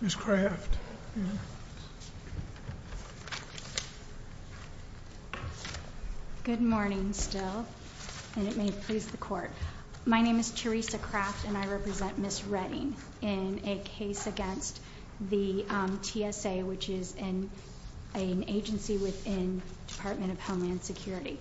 Ms. Craft Good morning still and it may please the court. My name is Teresa Craft and I represent Ms. Redding in a case against the TSA which is an agency within Department of Homeland Security.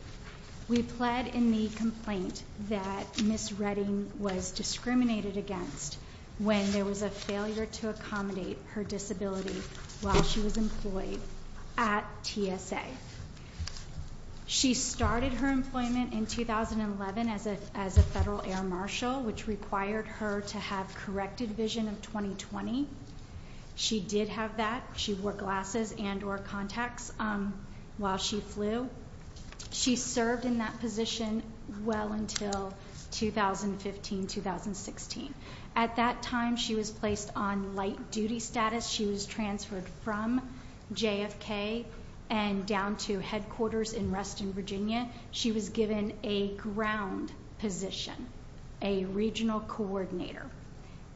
We pled in the complaint that Ms. Redding was discriminated against when there was a failure to accommodate her disability while she was employed at TSA. She started her employment in 2011 as a as a federal air marshal which required her to have corrected vision of 2020. She did have that. She wore glasses and or contacts while she flew. She served in that position well until 2015-2016. At that time she was placed on light duty status. She was transferred from JFK and down to headquarters in Reston, Virginia. She was given a ground position, a regional coordinator.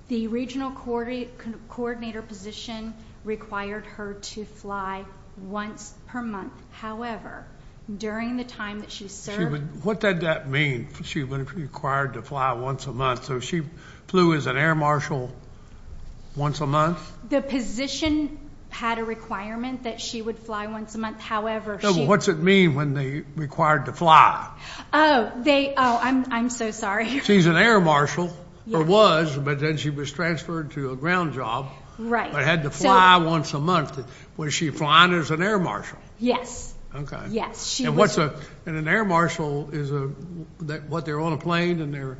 The regional coordinator position required her to fly once per month. However, during the time that she served. What did that mean? She was required to fly once a month so she flew as an air marshal once a month? The position had a requirement that she would fly once a month. However, what's it mean when they required to fly? Oh they oh I'm so sorry. She's an air marshal or was but then she was transferred to a ground job. Right. I had to fly once a month. Was she flying as an air marshal? Yes. Okay. Yes. And what's a an air marshal is a that what they're on a plane and they're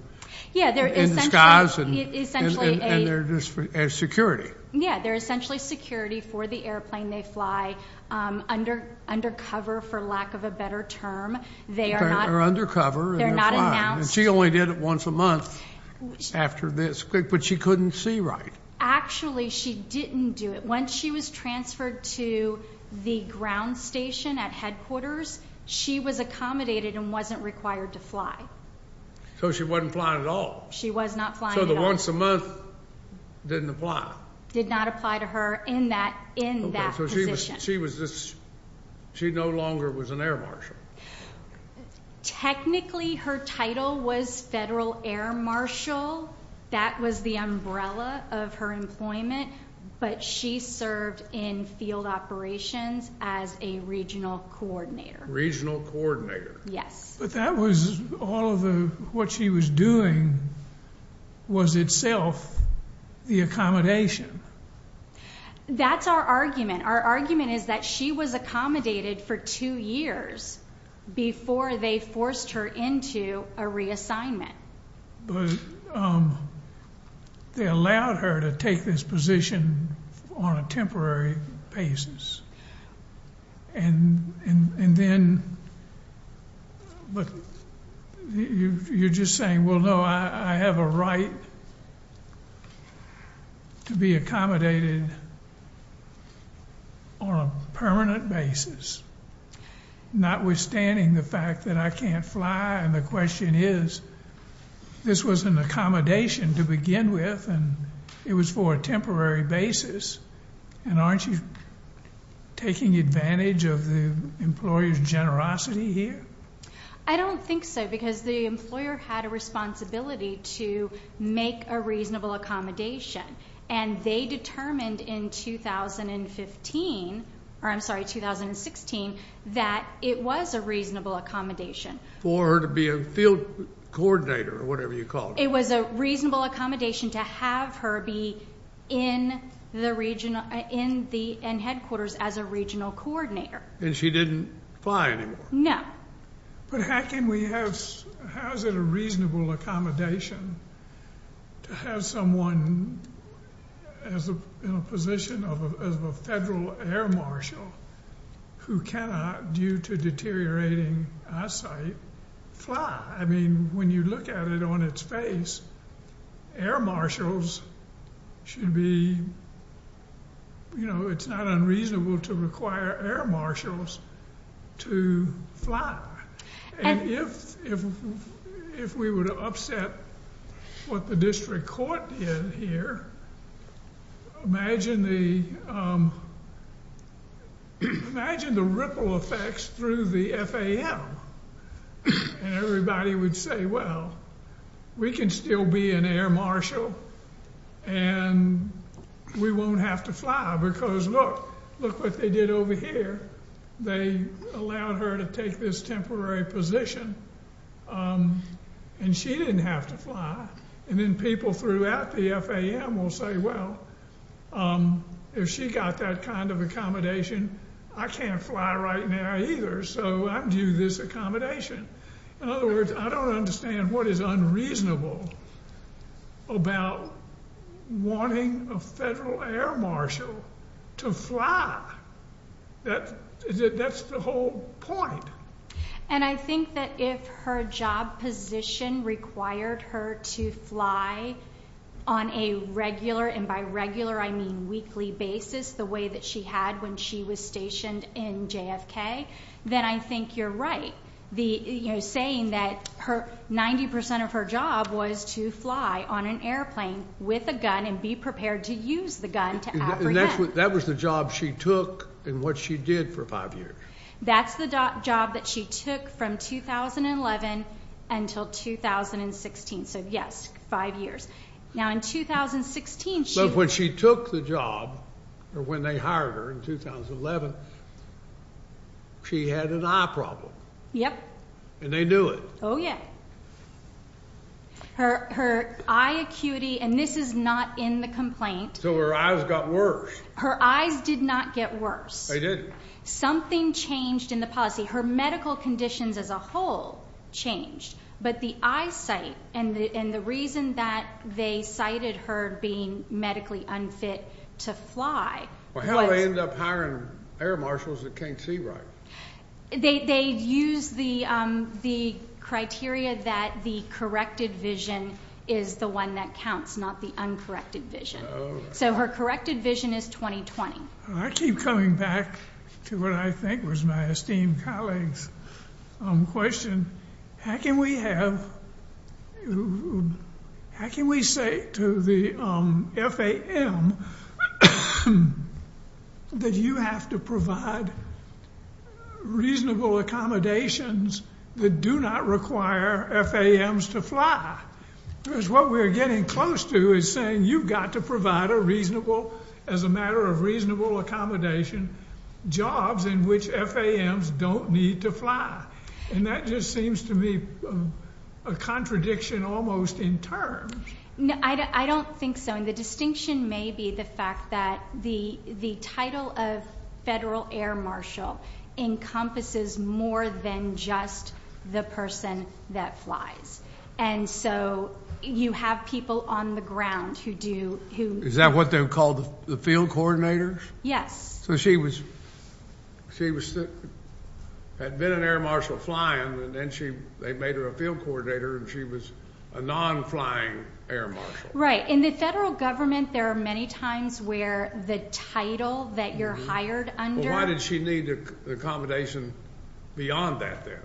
yeah they're in disguise and they're just as security. Yeah they're essentially security for the airplane. They fly under under cover for lack of a better term. They are under cover. They're not announced. She only did it once a month after this but she couldn't see right. Actually she didn't do it. Once she was transferred to the ground station at headquarters she was accommodated and wasn't required to fly. So she wasn't flying at all? She was not flying. So the once a month didn't apply? Did not apply to her in that in that position. She was just she no longer was an air marshal. Technically her title was federal air marshal. That was the umbrella of her employment. But she served in field operations as a regional coordinator. Regional coordinator. Yes. But that was all of the what she was doing was itself the accommodation. That's our argument. Our argument is that she was accommodated for two years before they forced her into a reassignment. But they allowed her to take this position on a temporary basis and and then but you you're just saying well no I have a right to be accommodated on a permanent basis not withstanding the fact that I can't fly and the question is this was an accommodation to begin with and it was for a temporary basis and aren't you taking advantage of the employers generosity here? I don't think so because the employer had a responsibility to make a reasonable accommodation and they determined in 2015 or I'm sorry 2016 that it was a reasonable accommodation. For her to be a field coordinator or whatever you call it. It was a reasonable accommodation to have her be in the region in the end headquarters as a regional coordinator. And she didn't fly anymore? No. But how can we have, how is it a reasonable accommodation to have someone as a position of a federal air marshal who cannot due to deteriorating eyesight fly? I mean when you look at it on its face air marshals should be you know it's not unreasonable to require air marshals to fly. And if if we were to upset what the district court did here imagine the imagine the ripple effects through the FAL and everybody would say well we can still be an air marshal and we won't have to fly because look look what they did over here they allowed her to take this temporary position and she didn't have to fly and then people throughout the FAL will say well if she got that kind of accommodation I can't fly right now either so I'm due this accommodation. In other words I don't understand what is unreasonable about wanting a federal air marshal to fly. That that's the whole point. And I think that if her job position required her to fly on a regular and by regular I mean weekly basis the way that she had when she was stationed in JFK then I think you're right the you know saying that her 90% of her job was to fly on an airplane with a gun and be prepared to use the gun to apprehend. That was the job she took and what she did for five years. That's the job that she took from 2011 until 2016 so yes five years. Now in 2016. So when she took the job or when they hired her in 2011 she had an eye problem. Yep. And they knew it. Oh yeah. Her her eye acuity and this is not in the complaint. So her eyes got worse. Her eyes did not get worse. They didn't. Something changed in the policy. Her medical conditions as a whole changed but the eyesight and the and the reason that they cited her being medically unfit to fly. How did they end up hiring air marshals that can't see right? They they've used the the criteria that the corrected vision is the one that counts not the uncorrected vision. So her corrected vision is 2020. I keep coming back to what I think was my esteemed colleagues question. How can we have how can we say to the FAM that you have to provide reasonable accommodations that do not require FAMs to fly? Because what we're getting close to is saying you've got to provide a reasonable as a matter of reasonable accommodation jobs in which FAMs don't need to fly and that just seems to me a contradiction almost in terms. No I don't think so and the distinction may be the fact that the the title of federal air marshal encompasses more than just the person that flies and so you have people on the ground who do who. Is that what they called the field coordinators? Yes. So she was she was had been an air marshal flying and then she they made her a field coordinator and she was a non flying air marshal. Right in the federal government there are many times where the title that you're hired under. Why did she need accommodation beyond that there?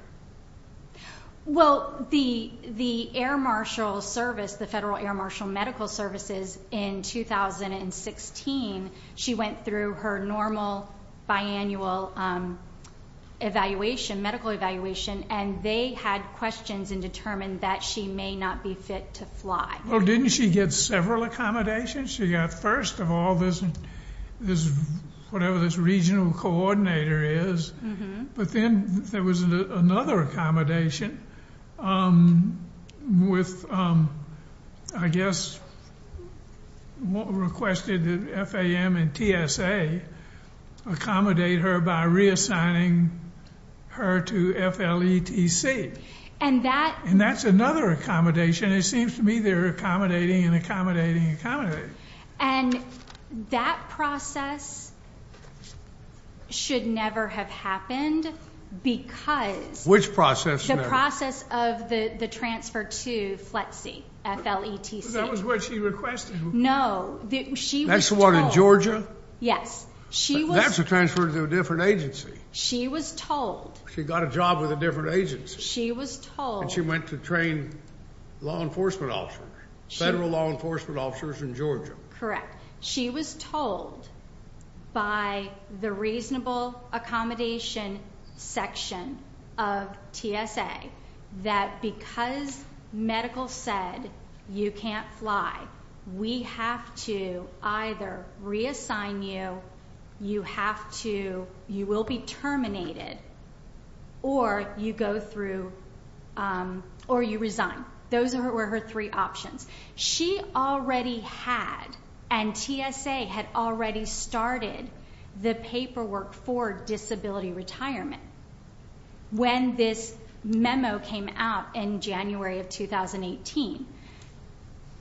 Well the the air marshal service the federal air marshal medical services in 2016 she went through her normal biannual evaluation medical evaluation and they had questions and determined that she may not be fit to fly. Well didn't she get several accommodations? She got first of all this is whatever this regional coordinator is but then there was another accommodation with I guess what requested the FAM and TSA accommodate her by reassigning her to FLETC and that and that's another accommodation it seems to me they're accommodating and accommodating accommodating. And that process should never have happened because which process the process of the the transfer to FLETC. That was what she requested? No. That's the one in Georgia? Yes. That's a transfer to a different agency. She was told. She got a job with a different agency. She was told. She went to train law enforcement officers federal law enforcement officers in Georgia. Correct. She was told by the reasonable accommodation section of TSA that because medical said you can't fly we have to either reassign you you have to you will be terminated or you go through or you resign. Those were her three options. She already had and TSA had already started the paperwork for disability retirement when this memo came out in January of 2018.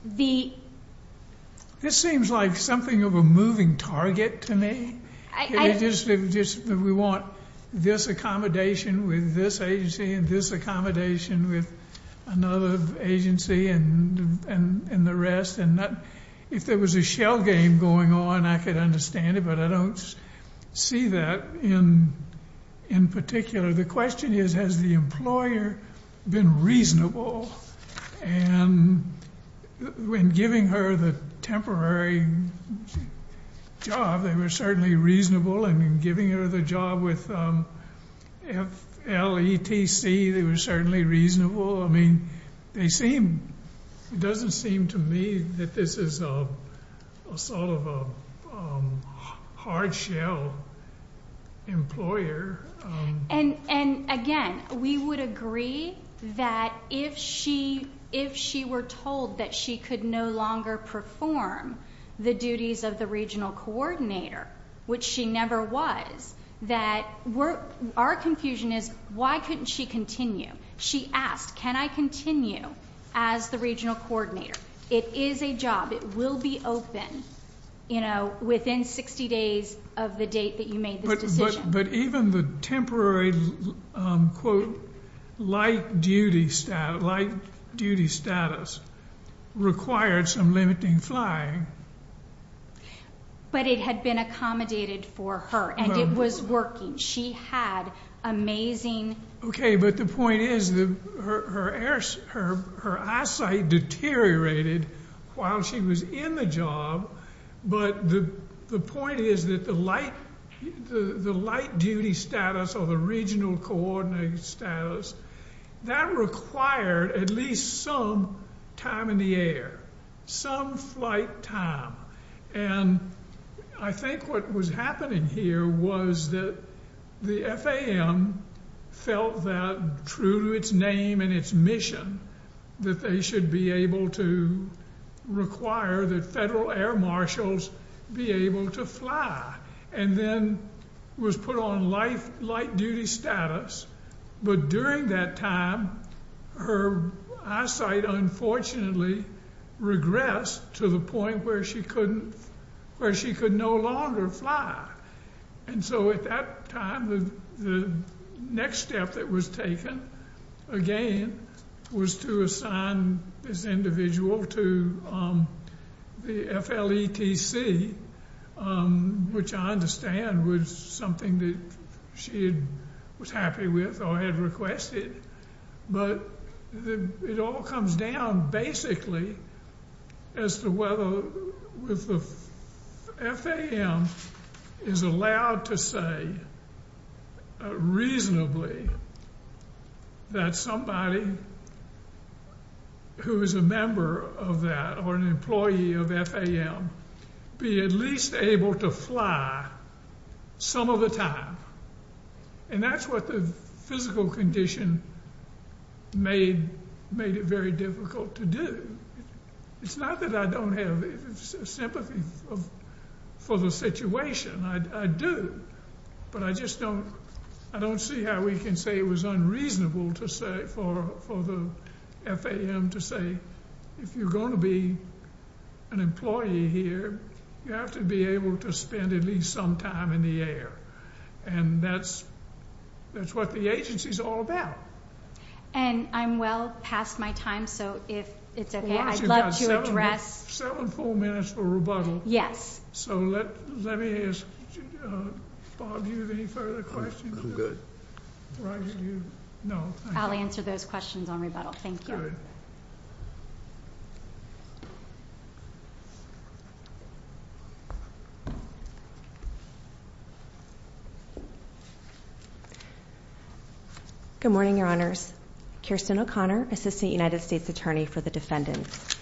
The... This seems like something of a moving target to me. I just we want this accommodation with this agency and this accommodation with another agency and and and the rest and not if there was a shell game going on I could understand it but I don't see that in in particular the question is has the employer been reasonable and when giving her the temporary job they were certainly reasonable and in giving her the job with FLETC they were certainly reasonable I mean they seem it doesn't seem to me that this is a sort of a hard shell employer and and again we would agree that if she if she were told that she could no longer perform the duties of the regional coordinator which she never was that were our confusion is why couldn't she continue she asked can I continue as the regional coordinator it is a job it will be open you know within 60 days of the date that you made this decision. But even the temporary quote light duty staff light duty status required some limiting flying. But it had been accommodated for her and it was working she had amazing. Okay but the point is the her her her her eyesight deteriorated while she was in the job but the the point is that the light the the light duty status or the regional coordinating status that required at least some time in the air some flight time and I think what was happening here was that the FAM felt that true to its name and its mission that they should be able to require that federal air marshals be able to fly and then was put on life light duty status but during that time her eyesight unfortunately regressed to the point where she couldn't where she could no longer fly and so at that time the next step that was taken again was to assign this individual to the FLETC which I understand was something that she was happy with or had requested but it all comes down basically as to whether with the FAM is allowed to say reasonably that somebody who is a member of that or an employee of FAM be at least able to fly some of the time and that's what the physical condition made made it very difficult to do it's not that I don't have sympathy for the situation I do but I just don't I don't see how we can say it was unreasonable to say for for the FAM to say if you're going to be an employee here you have to be able to spend at least some time in the air and that's that's what the agency's all about. And I'm well past my time so if it's okay I'd love to address. We've got seven full minutes for rebuttal. Yes. So let me ask Bob do you have any further questions? I'm good. I'll answer those questions on rebuttal. Thank you. Good morning your honors. Kirsten O'Connor assistant United States attorney for the defendants.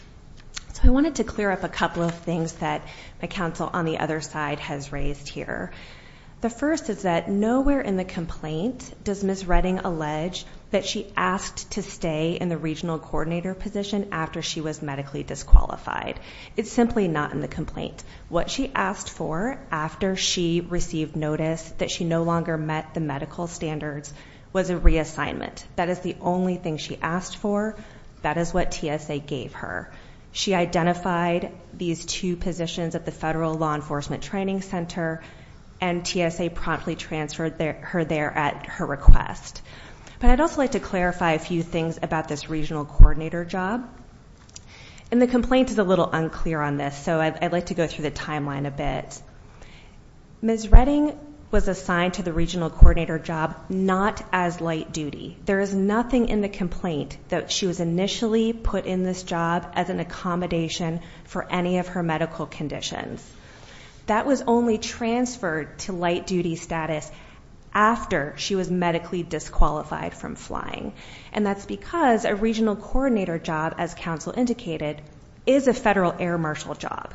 So I wanted to clear up a couple of things that my counsel on the other side has raised here. The first is that nowhere in the complaint does Miss Redding allege that she asked to stay in the regional coordinator position after she was medically disqualified. It's simply not in the complaint. What she asked for after she received notice that she was medically disqualified. That she no longer met the medical standards was a reassignment. That is the only thing she asked for. That is what TSA gave her. She identified these two positions at the federal law enforcement training center. And TSA promptly transferred her there at her request. But I'd also like to clarify a few things about this regional coordinator job. And the complaint is a little unclear on this so I'd like to go through the timeline a bit. Miss Redding was assigned to the regional coordinator job not as light duty. There is nothing in the complaint that she was initially put in this job as an accommodation for any of her medical conditions. That was only transferred to light duty status after she was medically disqualified from flying. And that's because a regional coordinator job, as counsel indicated, is a federal air marshal job.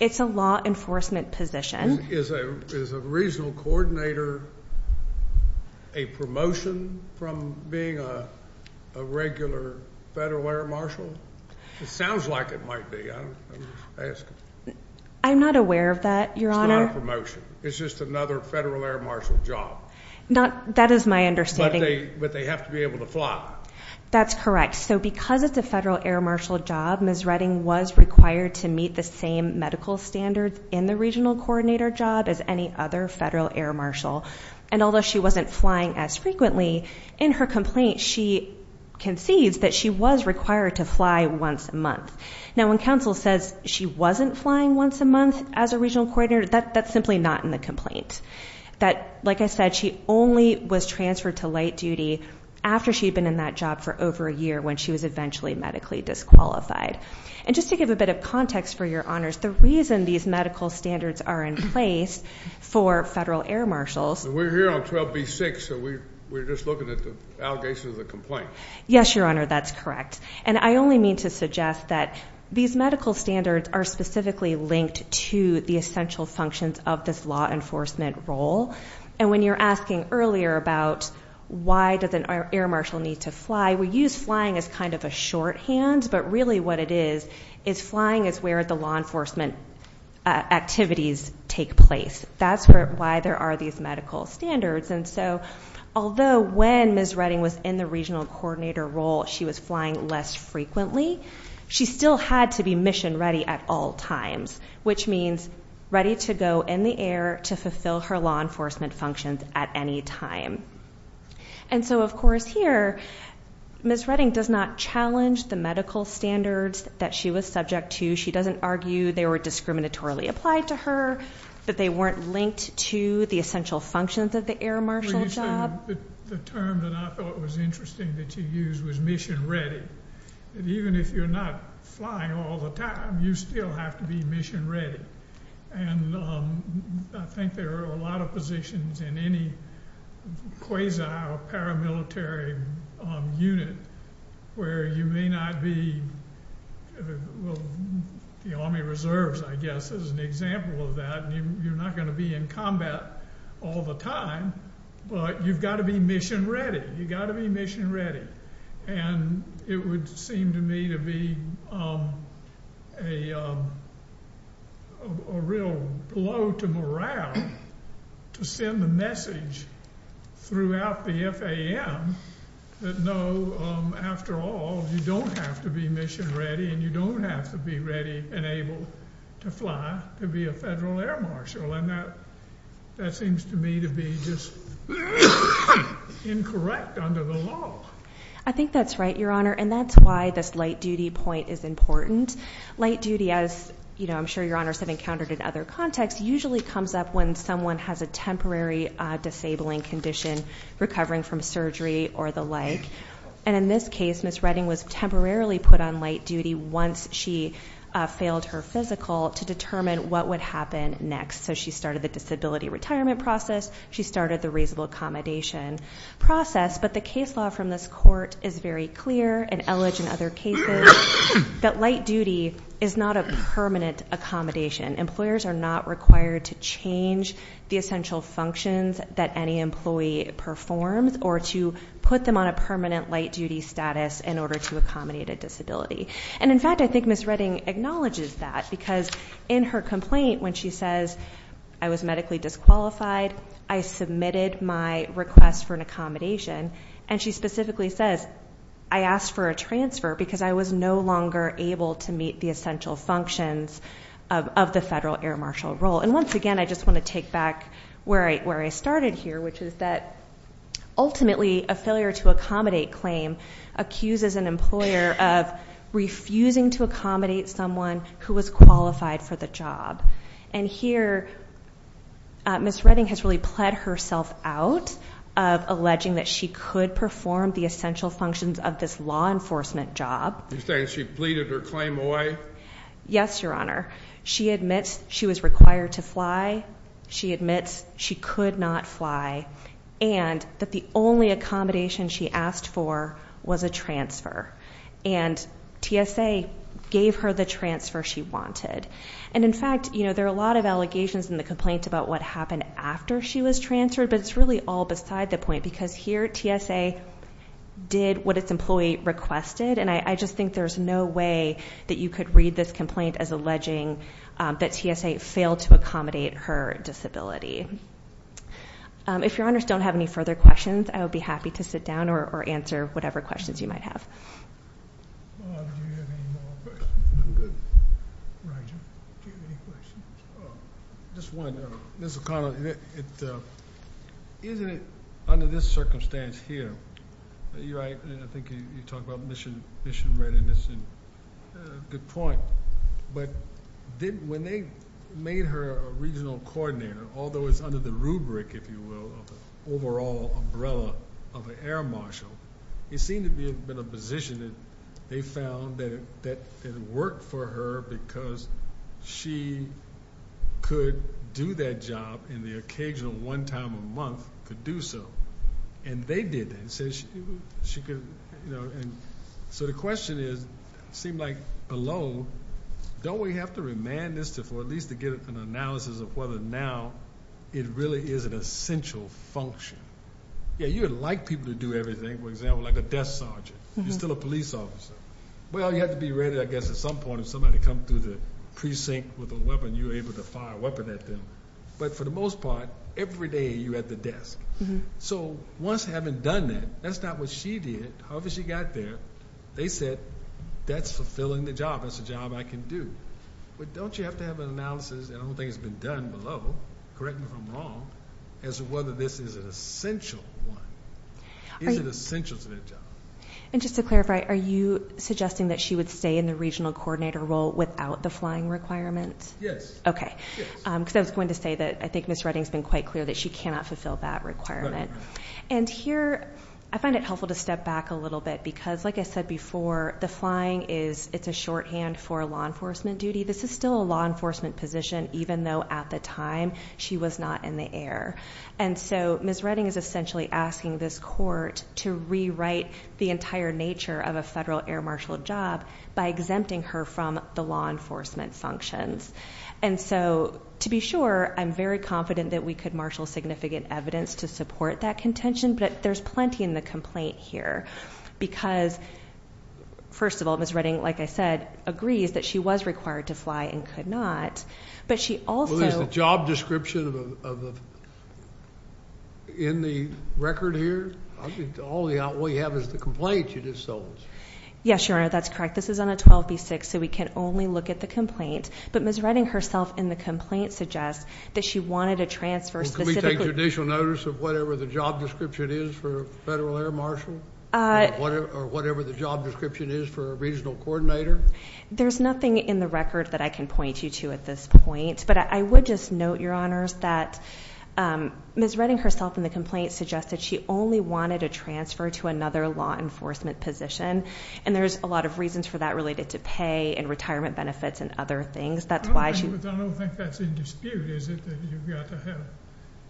It's a law enforcement position. Is a regional coordinator a promotion from being a regular federal air marshal? It sounds like it might be. I'm not aware of that, Your Honor. It's not a promotion. It's just another federal air marshal job. Not, that is my understanding. But they have to be able to fly. That's correct. So because it's a federal air marshal job, Miss Redding was required to meet the same medical standards in the regional coordinator job as any other federal air marshal. And although she wasn't flying as frequently in her complaint, she concedes that she was required to fly once a month. Now, when counsel says she wasn't flying once a month as a regional coordinator, that's simply not in the complaint. That, like I said, she only was transferred to light duty after she'd been in that job for over a year when she was eventually medically disqualified. And just to give a bit of context for your honors, the reason these medical standards are in place for federal air marshals. We're here on 12B-6, so we're just looking at the allegations of the complaint. Yes, Your Honor, that's correct. And I only mean to suggest that these medical standards are specifically linked to the essential functions of this law enforcement role. And when you're asking earlier about why does an air marshal need to fly, we use flying as kind of a shorthand. But really what it is, is flying is where the law enforcement activities take place. That's why there are these medical standards. And so, although when Ms. Redding was in the regional coordinator role, she was flying less frequently, she still had to be mission ready at all times. Which means ready to go in the air to fulfill her law enforcement functions at any time. And so of course here, Ms. Redding does not challenge the medical standards that she was subject to. She doesn't argue they were discriminatorily applied to her, that they weren't linked to the essential functions of the air marshal job. The term that I thought was interesting that you used was mission ready. And even if you're not flying all the time, you still have to be mission ready. And I think there are a lot of positions in any quasi or paramilitary unit where you may not be, the Army Reserves, I guess, is an example of that, and you're not going to be in combat all the time. But you've got to be mission ready, you've got to be mission ready. And it would seem to me to be a real blow to morale to send the message throughout the FAM. That no, after all, you don't have to be mission ready, and you don't have to be ready and able to fly to be a federal air marshal. And that seems to me to be just incorrect under the law. I think that's right, Your Honor, and that's why this light duty point is important. Light duty, as I'm sure Your Honors have encountered in other contexts, usually comes up when someone has a temporary disabling condition, recovering from surgery or the like. And in this case, Ms. Redding was temporarily put on light duty once she failed her physical to determine what would happen next. So she started the disability retirement process, she started the reasonable accommodation process. But the case law from this court is very clear and alleged in other cases that light duty is not a permanent accommodation. Employers are not required to change the essential functions that any employee performs or to put them on a permanent light duty status in order to accommodate a disability. And in fact, I think Ms. Redding acknowledges that because in her complaint when she says, I was medically disqualified, I submitted my request for an accommodation. And she specifically says, I asked for a transfer because I was no longer able to meet the essential functions of the federal air marshal role. And once again, I just want to take back where I started here, which is that ultimately, a failure to accommodate claim accuses an employer of refusing to accommodate someone who was qualified for the job. And here, Ms. Redding has really plead herself out of alleging that she could perform the essential functions of this law enforcement job. You're saying she pleaded her claim away? Yes, your honor. She admits she was required to fly. She admits she could not fly. And that the only accommodation she asked for was a transfer. And TSA gave her the transfer she wanted. And in fact, there are a lot of allegations in the complaint about what happened after she was transferred. But it's really all beside the point, because here, TSA did what its employee requested. And I just think there's no way that you could read this complaint as alleging that TSA failed to accommodate her disability. If your honors don't have any further questions, I would be happy to sit down or answer whatever questions you might have. Do you have any more questions? I'm good. Roger, do you have any questions? Just one, Ms. O'Connor, isn't it under this circumstance here, you're right, I think you talk about mission readiness and good point. But when they made her a regional coordinator, although it's under the rubric, if you will, of the overall umbrella of an air marshal. It seemed to be a position that they found that it worked for her because she could do that job in the occasional one time a month to do so. And they did that, and so the question is, seemed like below, don't we have to remand this for at least to get an analysis of whether now it really is an essential function? Yeah, you would like people to do everything, for example, like a desk sergeant. You're still a police officer. Well, you have to be ready, I guess, at some point, if somebody come through the precinct with a weapon, you're able to fire a weapon at them. But for the most part, every day you're at the desk. So once having done that, that's not what she did, however she got there, they said, that's fulfilling the job, that's a job I can do. But don't you have to have an analysis, and I don't think it's been done below, correct me if I'm wrong, as to whether this is an essential one, is it essential to that job? And just to clarify, are you suggesting that she would stay in the regional coordinator role without the flying requirement? Yes. Okay, because I was going to say that I think Ms. Redding's been quite clear that she cannot fulfill that requirement. And here, I find it helpful to step back a little bit, because like I said before, the flying is, it's a shorthand for law enforcement duty. This is still a law enforcement position, even though at the time, she was not in the air. And so, Ms. Redding is essentially asking this court to rewrite the entire nature of a federal air marshal job by exempting her from the law enforcement functions. And so, to be sure, I'm very confident that we could marshal significant evidence to support that contention, but there's plenty in the complaint here. Because, first of all, Ms. Redding, like I said, agrees that she was required to fly and could not, but she also- Well, is the job description in the record here? All we have is the complaint you just sold. Yes, Your Honor, that's correct. This is on a 12B6, so we can only look at the complaint. But Ms. Redding herself, in the complaint, suggests that she wanted a transfer specifically- Well, can we take judicial notice of whatever the job description is for a federal air marshal? Or whatever the job description is for a regional coordinator? There's nothing in the record that I can point you to at this point. But I would just note, Your Honors, that Ms. Redding herself, in the complaint, suggested she only wanted a transfer to another law enforcement position. And there's a lot of reasons for that related to pay and retirement benefits and other things. That's why she- I don't think that's in dispute, is it? That you've got to have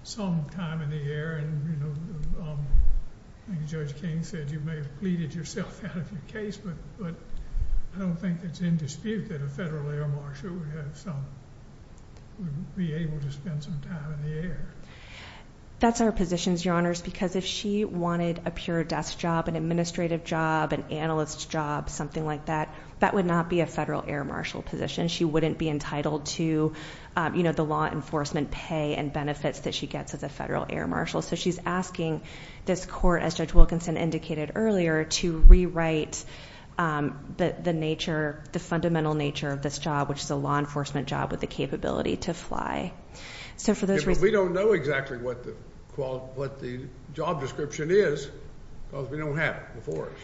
some time in the air. And Judge King said you may have pleaded yourself out of your case. But I don't think it's in dispute that a federal air marshal would be able to spend some time in the air. That's her position, Your Honors. Because if she wanted a pure desk job, an administrative job, an analyst job, something like that, that would not be a federal air marshal position. She wouldn't be entitled to the law enforcement pay and benefits that she gets as a federal air marshal. So she's asking this court, as Judge Wilkinson indicated earlier, to rewrite the fundamental nature of this job, which is a law enforcement job with the capability to fly. So for those reasons- If we don't know exactly what the job description is, because we don't have it before us.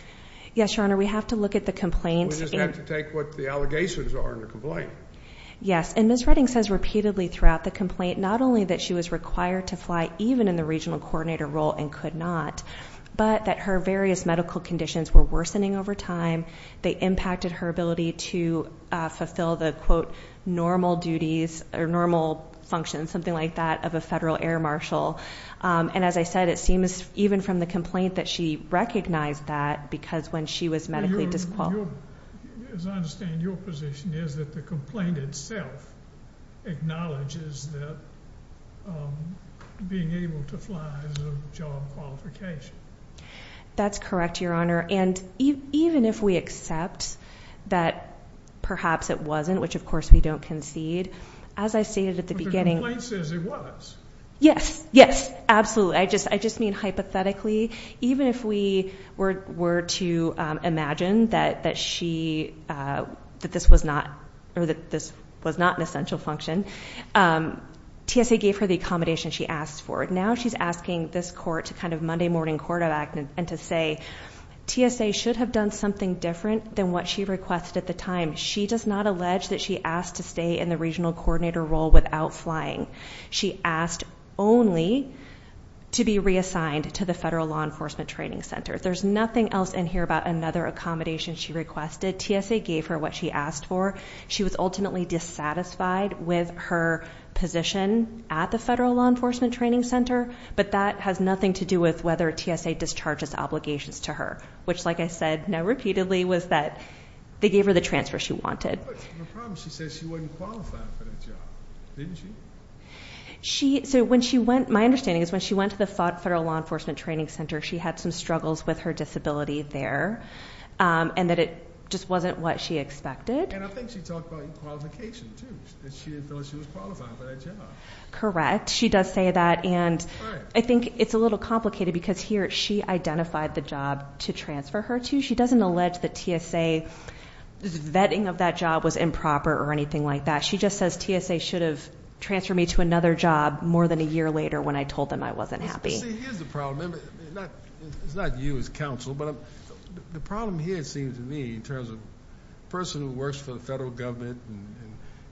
Yes, Your Honor, we have to look at the complaints and- We just have to take what the allegations are in the complaint. Yes, and Ms. Redding says repeatedly throughout the complaint, not only that she was required to fly even in the regional coordinator role and could not, but that her various medical conditions were worsening over time. They impacted her ability to fulfill the, quote, normal duties or normal functions, something like that, of a federal air marshal. And as I said, it seems even from the complaint that she recognized that because when she was medically disqualified- As I understand, your position is that the complaint itself acknowledges that being able to fly is a job qualification. That's correct, Your Honor. And even if we accept that perhaps it wasn't, which of course we don't concede. As I stated at the beginning- But the complaint says it was. Yes, yes, absolutely. I just mean hypothetically, even if we were to imagine that she, that this was not an essential function, TSA gave her the accommodation she asked for. Now she's asking this court to kind of Monday morning quarterback and to say TSA should have done something different than what she requested at the time. She does not allege that she asked to stay in the regional coordinator role without flying. She asked only to be reassigned to the Federal Law Enforcement Training Center. There's nothing else in here about another accommodation she requested. TSA gave her what she asked for. She was ultimately dissatisfied with her position at the Federal Law Enforcement Training Center. But that has nothing to do with whether TSA discharges obligations to her. Which like I said, now repeatedly, was that they gave her the transfer she wanted. But the problem, she says she wasn't qualified for that job, didn't she? So when she went, my understanding is when she went to the Federal Law Enforcement Training Center, she had some struggles with her disability there, and that it just wasn't what she expected. And I think she talked about qualification too, that she didn't feel like she was qualified for that job. Correct, she does say that, and I think it's a little complicated because here, she identified the job to transfer her to. She doesn't allege that TSA vetting of that job was improper or anything like that. She just says TSA should have transferred me to another job more than a year later when I told them I wasn't happy. See, here's the problem, it's not you as counsel, but the problem here seems to me in terms of person who works for the federal government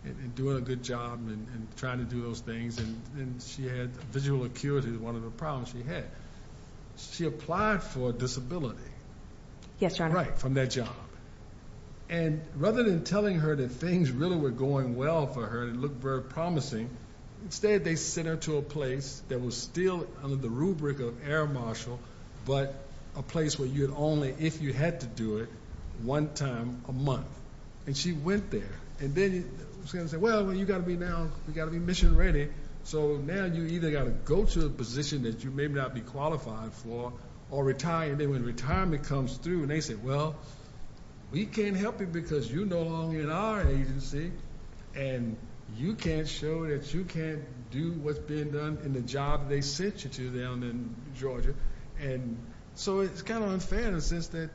and doing a good job and trying to do those things, and she had visual acuity, one of the problems she had. She applied for a disability. Yes, Your Honor. Right, from that job. And rather than telling her that things really were going well for her and it looked very promising, instead they sent her to a place that was still under the rubric of air marshal, but a place where you'd only, if you had to do it, one time a month. And she went there, and then they said, well, you gotta be now, you gotta be mission ready. So now you either gotta go to a position that you may not be qualified for, or retire. And then when retirement comes through, and they said, well, we can't help you because you no longer in our agency. And you can't show that you can't do what's being done in the job they sent you to down in Georgia. And so it's kind of unfair in the sense that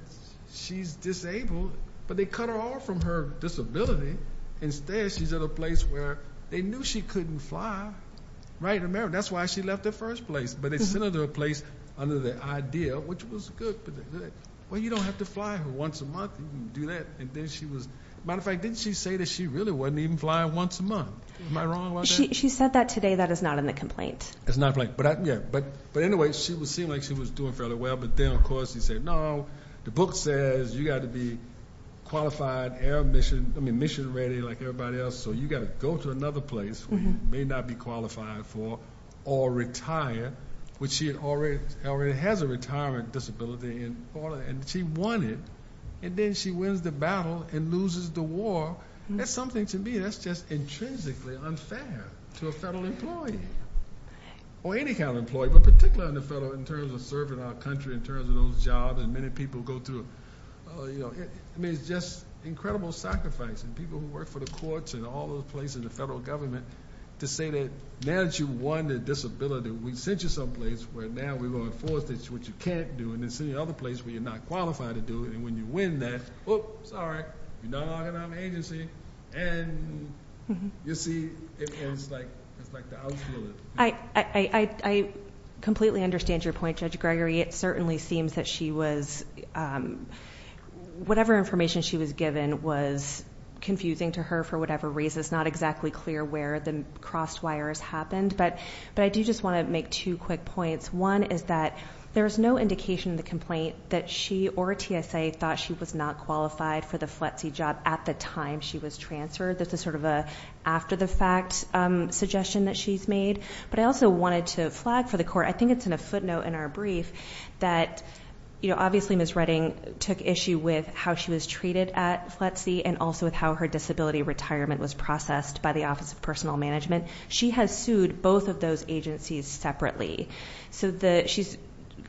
she's disabled, but they cut her off from her disability. Instead, she's at a place where they knew she couldn't fly. Right, remember, that's why she left the first place. But they sent her to a place under the idea, which was good, but they said, well, you don't have to fly her once a month, you can do that. And then she was, matter of fact, didn't she say that she really wasn't even flying once a month? Am I wrong about that? She said that today, that is not in the complaint. It's not in the complaint, but anyway, she would seem like she was doing fairly well. But then, of course, you say, no, the book says you got to be qualified, air mission, I mean, mission ready like everybody else. So you got to go to another place where you may not be qualified for or retire, which she already has a retirement disability in Florida, and she won it. And then she wins the battle and loses the war. That's something to me that's just intrinsically unfair to a federal employee, or any kind of employee. But particularly on the federal, in terms of serving our country, in terms of those jobs that many people go through. I mean, it's just incredible sacrifice, and people who work for the courts and all those places, the federal government, to say that now that you've won the disability, we sent you someplace where now we're going to enforce what you can't do, and then send you to another place where you're not qualified to do it. And when you win that, whoop, sorry, you're not allowed to have an agency. And you see, it's like the outfield. I completely understand your point, Judge Gregory. It certainly seems that she was, whatever information she was given was confusing to her for whatever reason. It's not exactly clear where the cross wires happened, but I do just want to make two quick points. One is that there's no indication in the complaint that she or TSA thought she was not qualified for the FLETC job at the time she was transferred. This is sort of a after the fact suggestion that she's made. But I also wanted to flag for the court, I think it's in a footnote in our brief, that obviously Ms. Redding took issue with how she was treated at FLETC, and also with how her disability retirement was processed by the Office of Personal Management. She has sued both of those agencies separately. So she's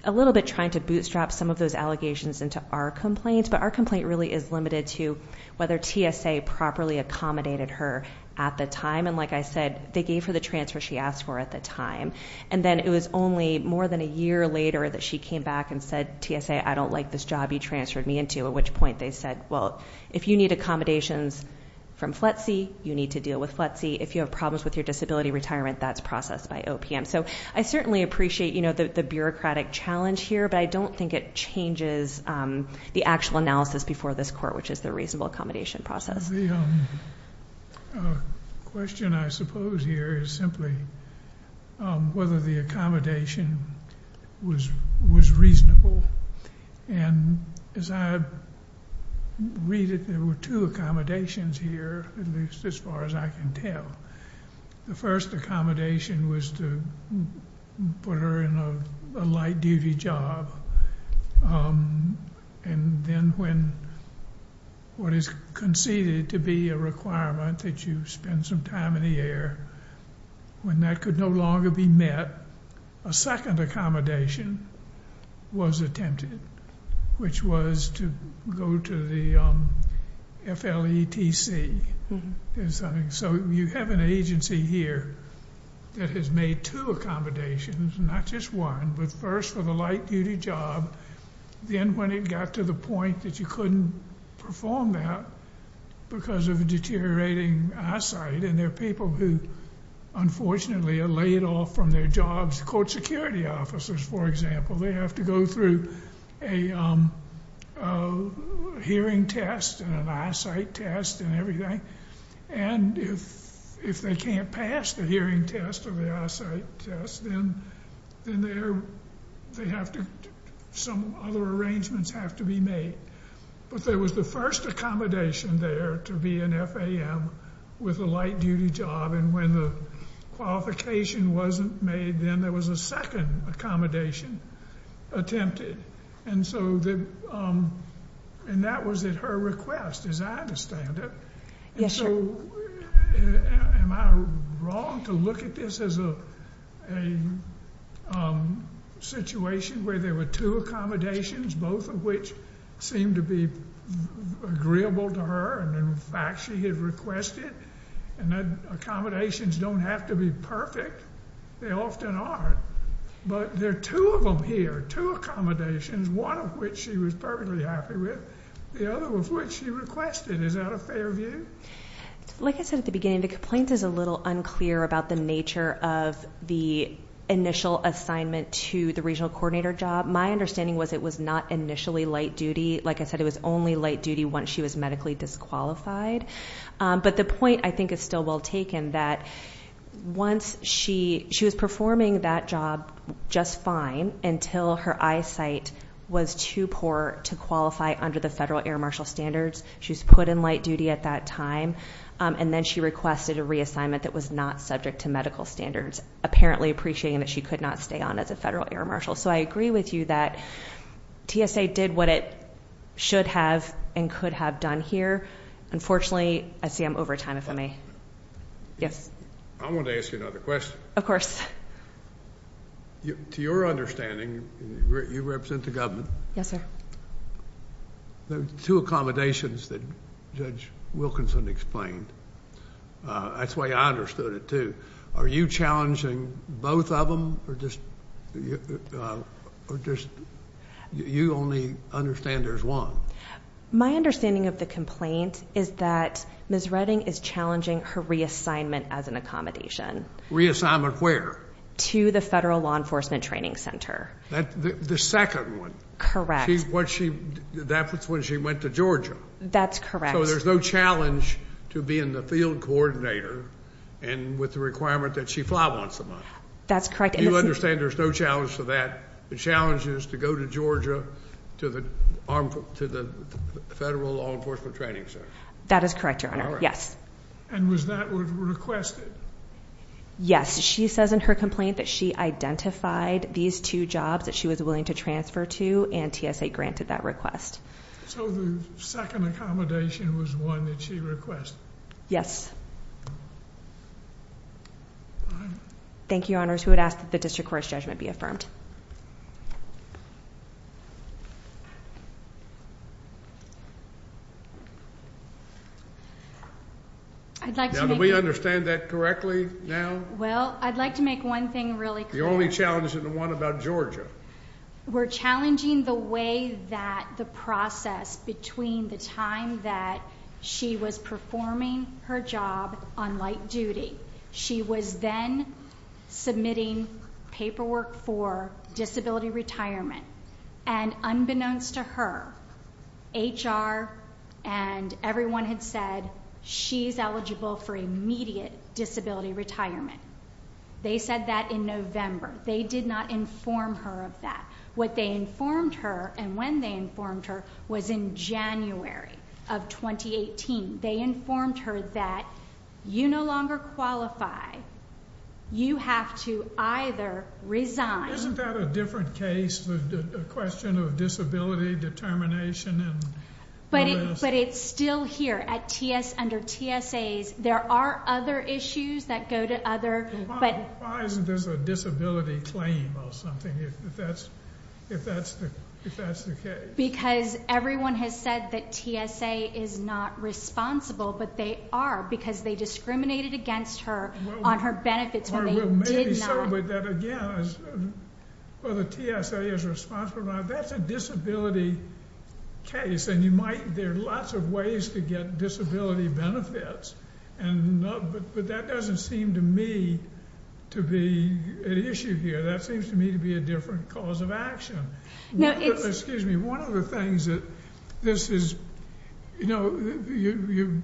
a little bit trying to bootstrap some of those allegations into our complaints, but our complaint really is limited to whether TSA properly accommodated her at the time. And like I said, they gave her the transfer she asked for at the time. And then it was only more than a year later that she came back and said, TSA, I don't like this job you transferred me into. At which point they said, well, if you need accommodations from FLETC, you need to deal with FLETC. If you have problems with your disability retirement, that's processed by OPM. So I certainly appreciate the bureaucratic challenge here, but I don't think it changes the actual analysis before this court, which is the reasonable accommodation process. The question I suppose here is simply whether the accommodation was reasonable. And as I read it, there were two accommodations here, at least as far as I can tell. The first accommodation was to put her in a light duty job. And then when what is conceded to be a requirement that you spend some time in the air, when that could no longer be met, a second accommodation was attempted. Which was to go to the FLETC, is something. So you have an agency here that has made two accommodations, not just one, but first for the light duty job. Then when it got to the point that you couldn't perform that because of a deteriorating eyesight. And there are people who unfortunately are laid off from their jobs, court security officers, for example. They have to go through a hearing test and an eyesight test and everything. And if they can't pass the hearing test or the eyesight test, then some other arrangements have to be made. But there was the first accommodation there to be an FAM with a light duty job. And when the qualification wasn't made, then there was a second accommodation attempted. And that was at her request, as I understand it. And so, am I wrong to look at this as a situation where there were two accommodations, both of which seemed to be agreeable to her, and in fact she had requested. And accommodations don't have to be perfect, they often aren't. But there are two of them here, two accommodations, one of which she was perfectly happy with, the other of which she requested. Is that a fair view? Like I said at the beginning, the complaint is a little unclear about the nature of the initial assignment to the regional coordinator job. My understanding was it was not initially light duty. Like I said, it was only light duty once she was medically disqualified. But the point I think is still well taken that once she was performing that job just fine, until her eyesight was too poor to qualify under the federal air marshal standards. She was put in light duty at that time, and then she requested a reassignment that was not subject to medical standards. Apparently appreciating that she could not stay on as a federal air marshal. So I agree with you that TSA did what it should have and could have done here. Unfortunately, I see I'm over time if I may. Yes? I wanted to ask you another question. To your understanding, you represent the government. Yes, sir. There are two accommodations that Judge Wilkinson explained. That's the way I understood it, too. Are you challenging both of them, or just you only understand there's one? My understanding of the complaint is that Ms. Redding is challenging her reassignment as an accommodation. Reassignment where? To the Federal Law Enforcement Training Center. The second one. Correct. That's when she went to Georgia. That's correct. So there's no challenge to being the field coordinator and with the requirement that she fly once a month. That's correct. You understand there's no challenge to that. The challenge is to go to Georgia to the Federal Law Enforcement Training Center. That is correct, Your Honor. Yes. And was that what was requested? Yes, she says in her complaint that she identified these two jobs that she was willing to transfer to, and TSA granted that request. So the second accommodation was one that she requested? Yes. Thank you, Your Honors. We would ask that the district court's judgment be affirmed. Now, do we understand that correctly now? Well, I'd like to make one thing really clear. The only challenge is the one about Georgia. We're challenging the way that the process between the time that she was performing her job on light duty, she was then submitting paperwork for disability retirement. And unbeknownst to her, HR and everyone had said she's eligible for immediate disability retirement. They said that in November. They did not inform her of that. What they informed her, and when they informed her, was in January of 2018. They informed her that you no longer qualify. You have to either resign. Isn't that a different case, the question of disability determination and what else? But it's still here under TSAs. There are other issues that go to other. But- Why isn't this a disability claim or something, if that's the case? Because everyone has said that TSA is not responsible, but they are, because they discriminated against her on her benefits when they did not. Well, maybe so, but that again, whether TSA is responsible or not, that's a disability case. And there are lots of ways to get disability benefits, but that doesn't seem to me to be an issue here. That seems to me to be a different cause of action. Now it's- Excuse me, one of the things that this is, you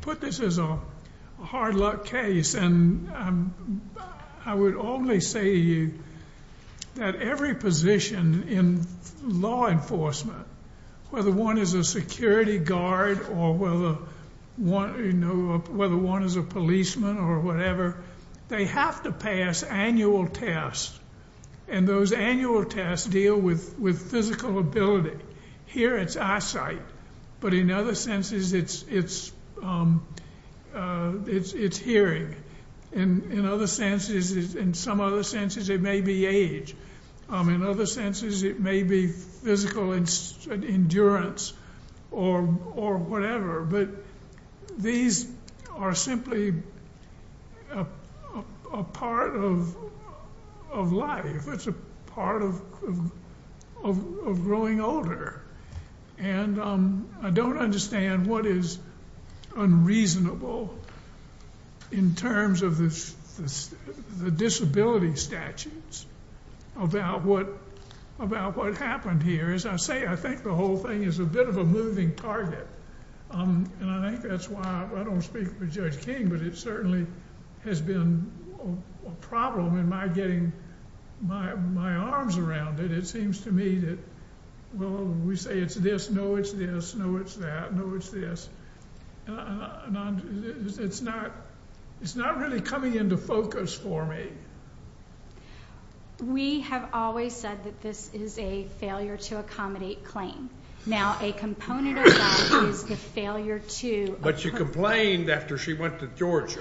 put this as a hard luck case, and I would only say to you that every position in law enforcement, whether one is a security guard or whether one is a policeman or whatever, they have to pass annual tests. And those annual tests deal with physical ability. Here it's eyesight, but in other senses it's hearing. In some other senses it may be age. In other senses it may be physical endurance or whatever. But these are simply a part of life. It's a part of growing older. And I don't understand what is unreasonable in terms of the disability statutes about what happened here. As I say, I think the whole thing is a bit of a moving target. And I think that's why I don't speak for Judge King, but it certainly has been a problem in my getting my arms around it. It seems to me that, well, we say it's this, no, it's this, no, it's that, no, it's this, and it's not really coming into focus for me. We have always said that this is a failure to accommodate claim. Now, a component of that is the failure to- But she complained after she went to Georgia,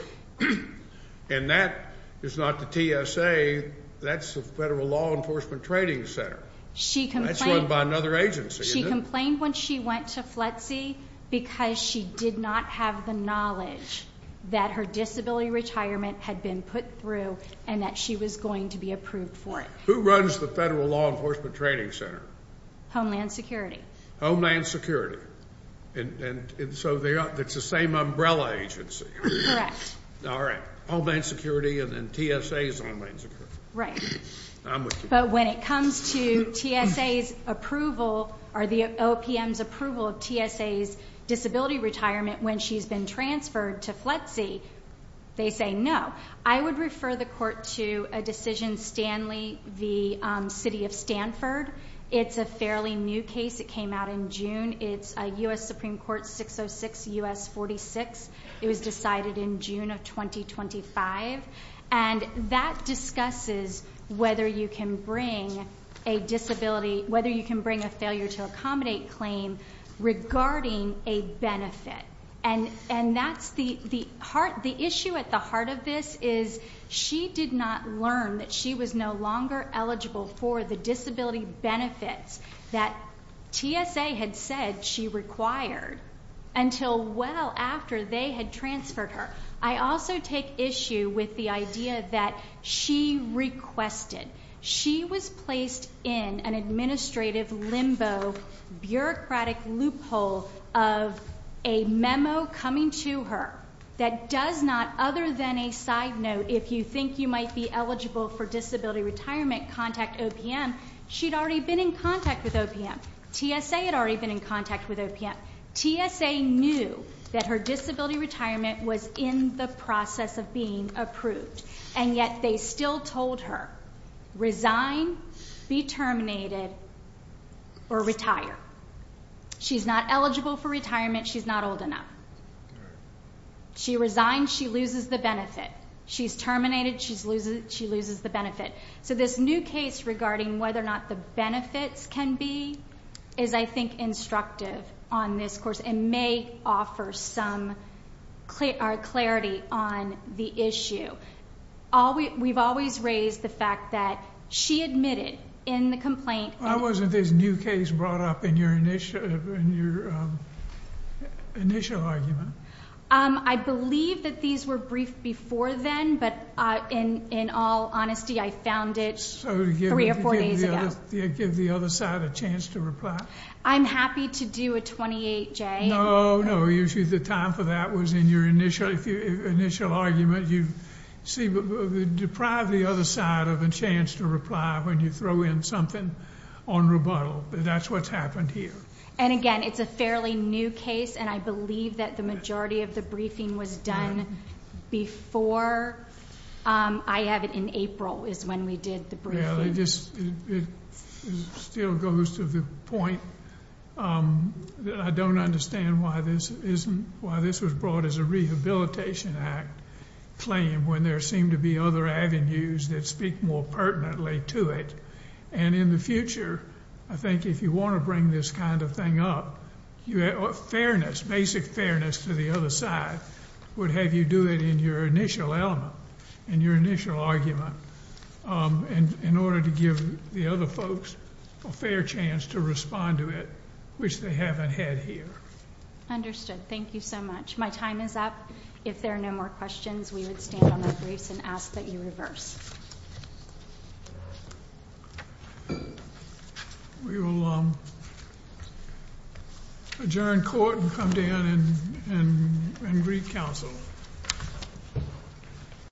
and that is not the TSA. That's the Federal Law Enforcement Trading Center. She complained- That's run by another agency, isn't it? She complained when she went to FLETC because she did not have the knowledge that her disability retirement had been put through and that she was going to be approved for it. Who runs the Federal Law Enforcement Trading Center? Homeland Security. Homeland Security. And so it's the same umbrella agency. Correct. All right. Homeland Security and then TSA is Homeland Security. Right. But when it comes to TSA's approval or the OPM's approval of TSA's disability retirement when she's been transferred to FLETC, they say no. I would refer the court to a decision, Stanley v. City of Stanford. It's a fairly new case. It came out in June. It's US Supreme Court 606 US 46. It was decided in June of 2025. And that discusses whether you can bring a disability, regarding a benefit. And that's the issue at the heart of this is, she did not learn that she was no longer eligible for the disability benefits that TSA had said she required. Until well after they had transferred her. I also take issue with the idea that she requested. She was placed in an administrative limbo, bureaucratic loophole of a memo coming to her that does not, other than a side note, if you think you might be eligible for disability retirement, contact OPM, she'd already been in contact with OPM. TSA had already been in contact with OPM. TSA knew that her disability retirement was in the process of being approved. And yet they still told her, resign, be terminated, or retire. She's not eligible for retirement. She's not old enough. She resigns, she loses the benefit. She's terminated, she loses the benefit. So this new case regarding whether or not the benefits can be, is I think instructive on this course. And may offer some clarity on the issue. We've always raised the fact that she admitted in the complaint. Why wasn't this new case brought up in your initial argument? I believe that these were briefed before then, but in all honesty, I found it three or four days ago. Give the other side a chance to reply. I'm happy to do a 28-J. No, no, usually the time for that was in your initial argument. You deprive the other side of a chance to reply when you throw in something on rebuttal. That's what's happened here. And again, it's a fairly new case, and I believe that the majority of the briefing was done before. I have it in April, is when we did the briefing. I just, it still goes to the point that I don't understand why this isn't, why this was brought as a rehabilitation act claim, when there seemed to be other avenues that speak more pertinently to it. And in the future, I think if you want to bring this kind of thing up, fairness, basic fairness to the other side, would have you do it in your initial element, in your initial argument. And in order to give the other folks a fair chance to respond to it, which they haven't had here. Understood, thank you so much. My time is up. If there are no more questions, we would stand on our briefs and ask that you reverse. We will adjourn court and come down and re-counsel.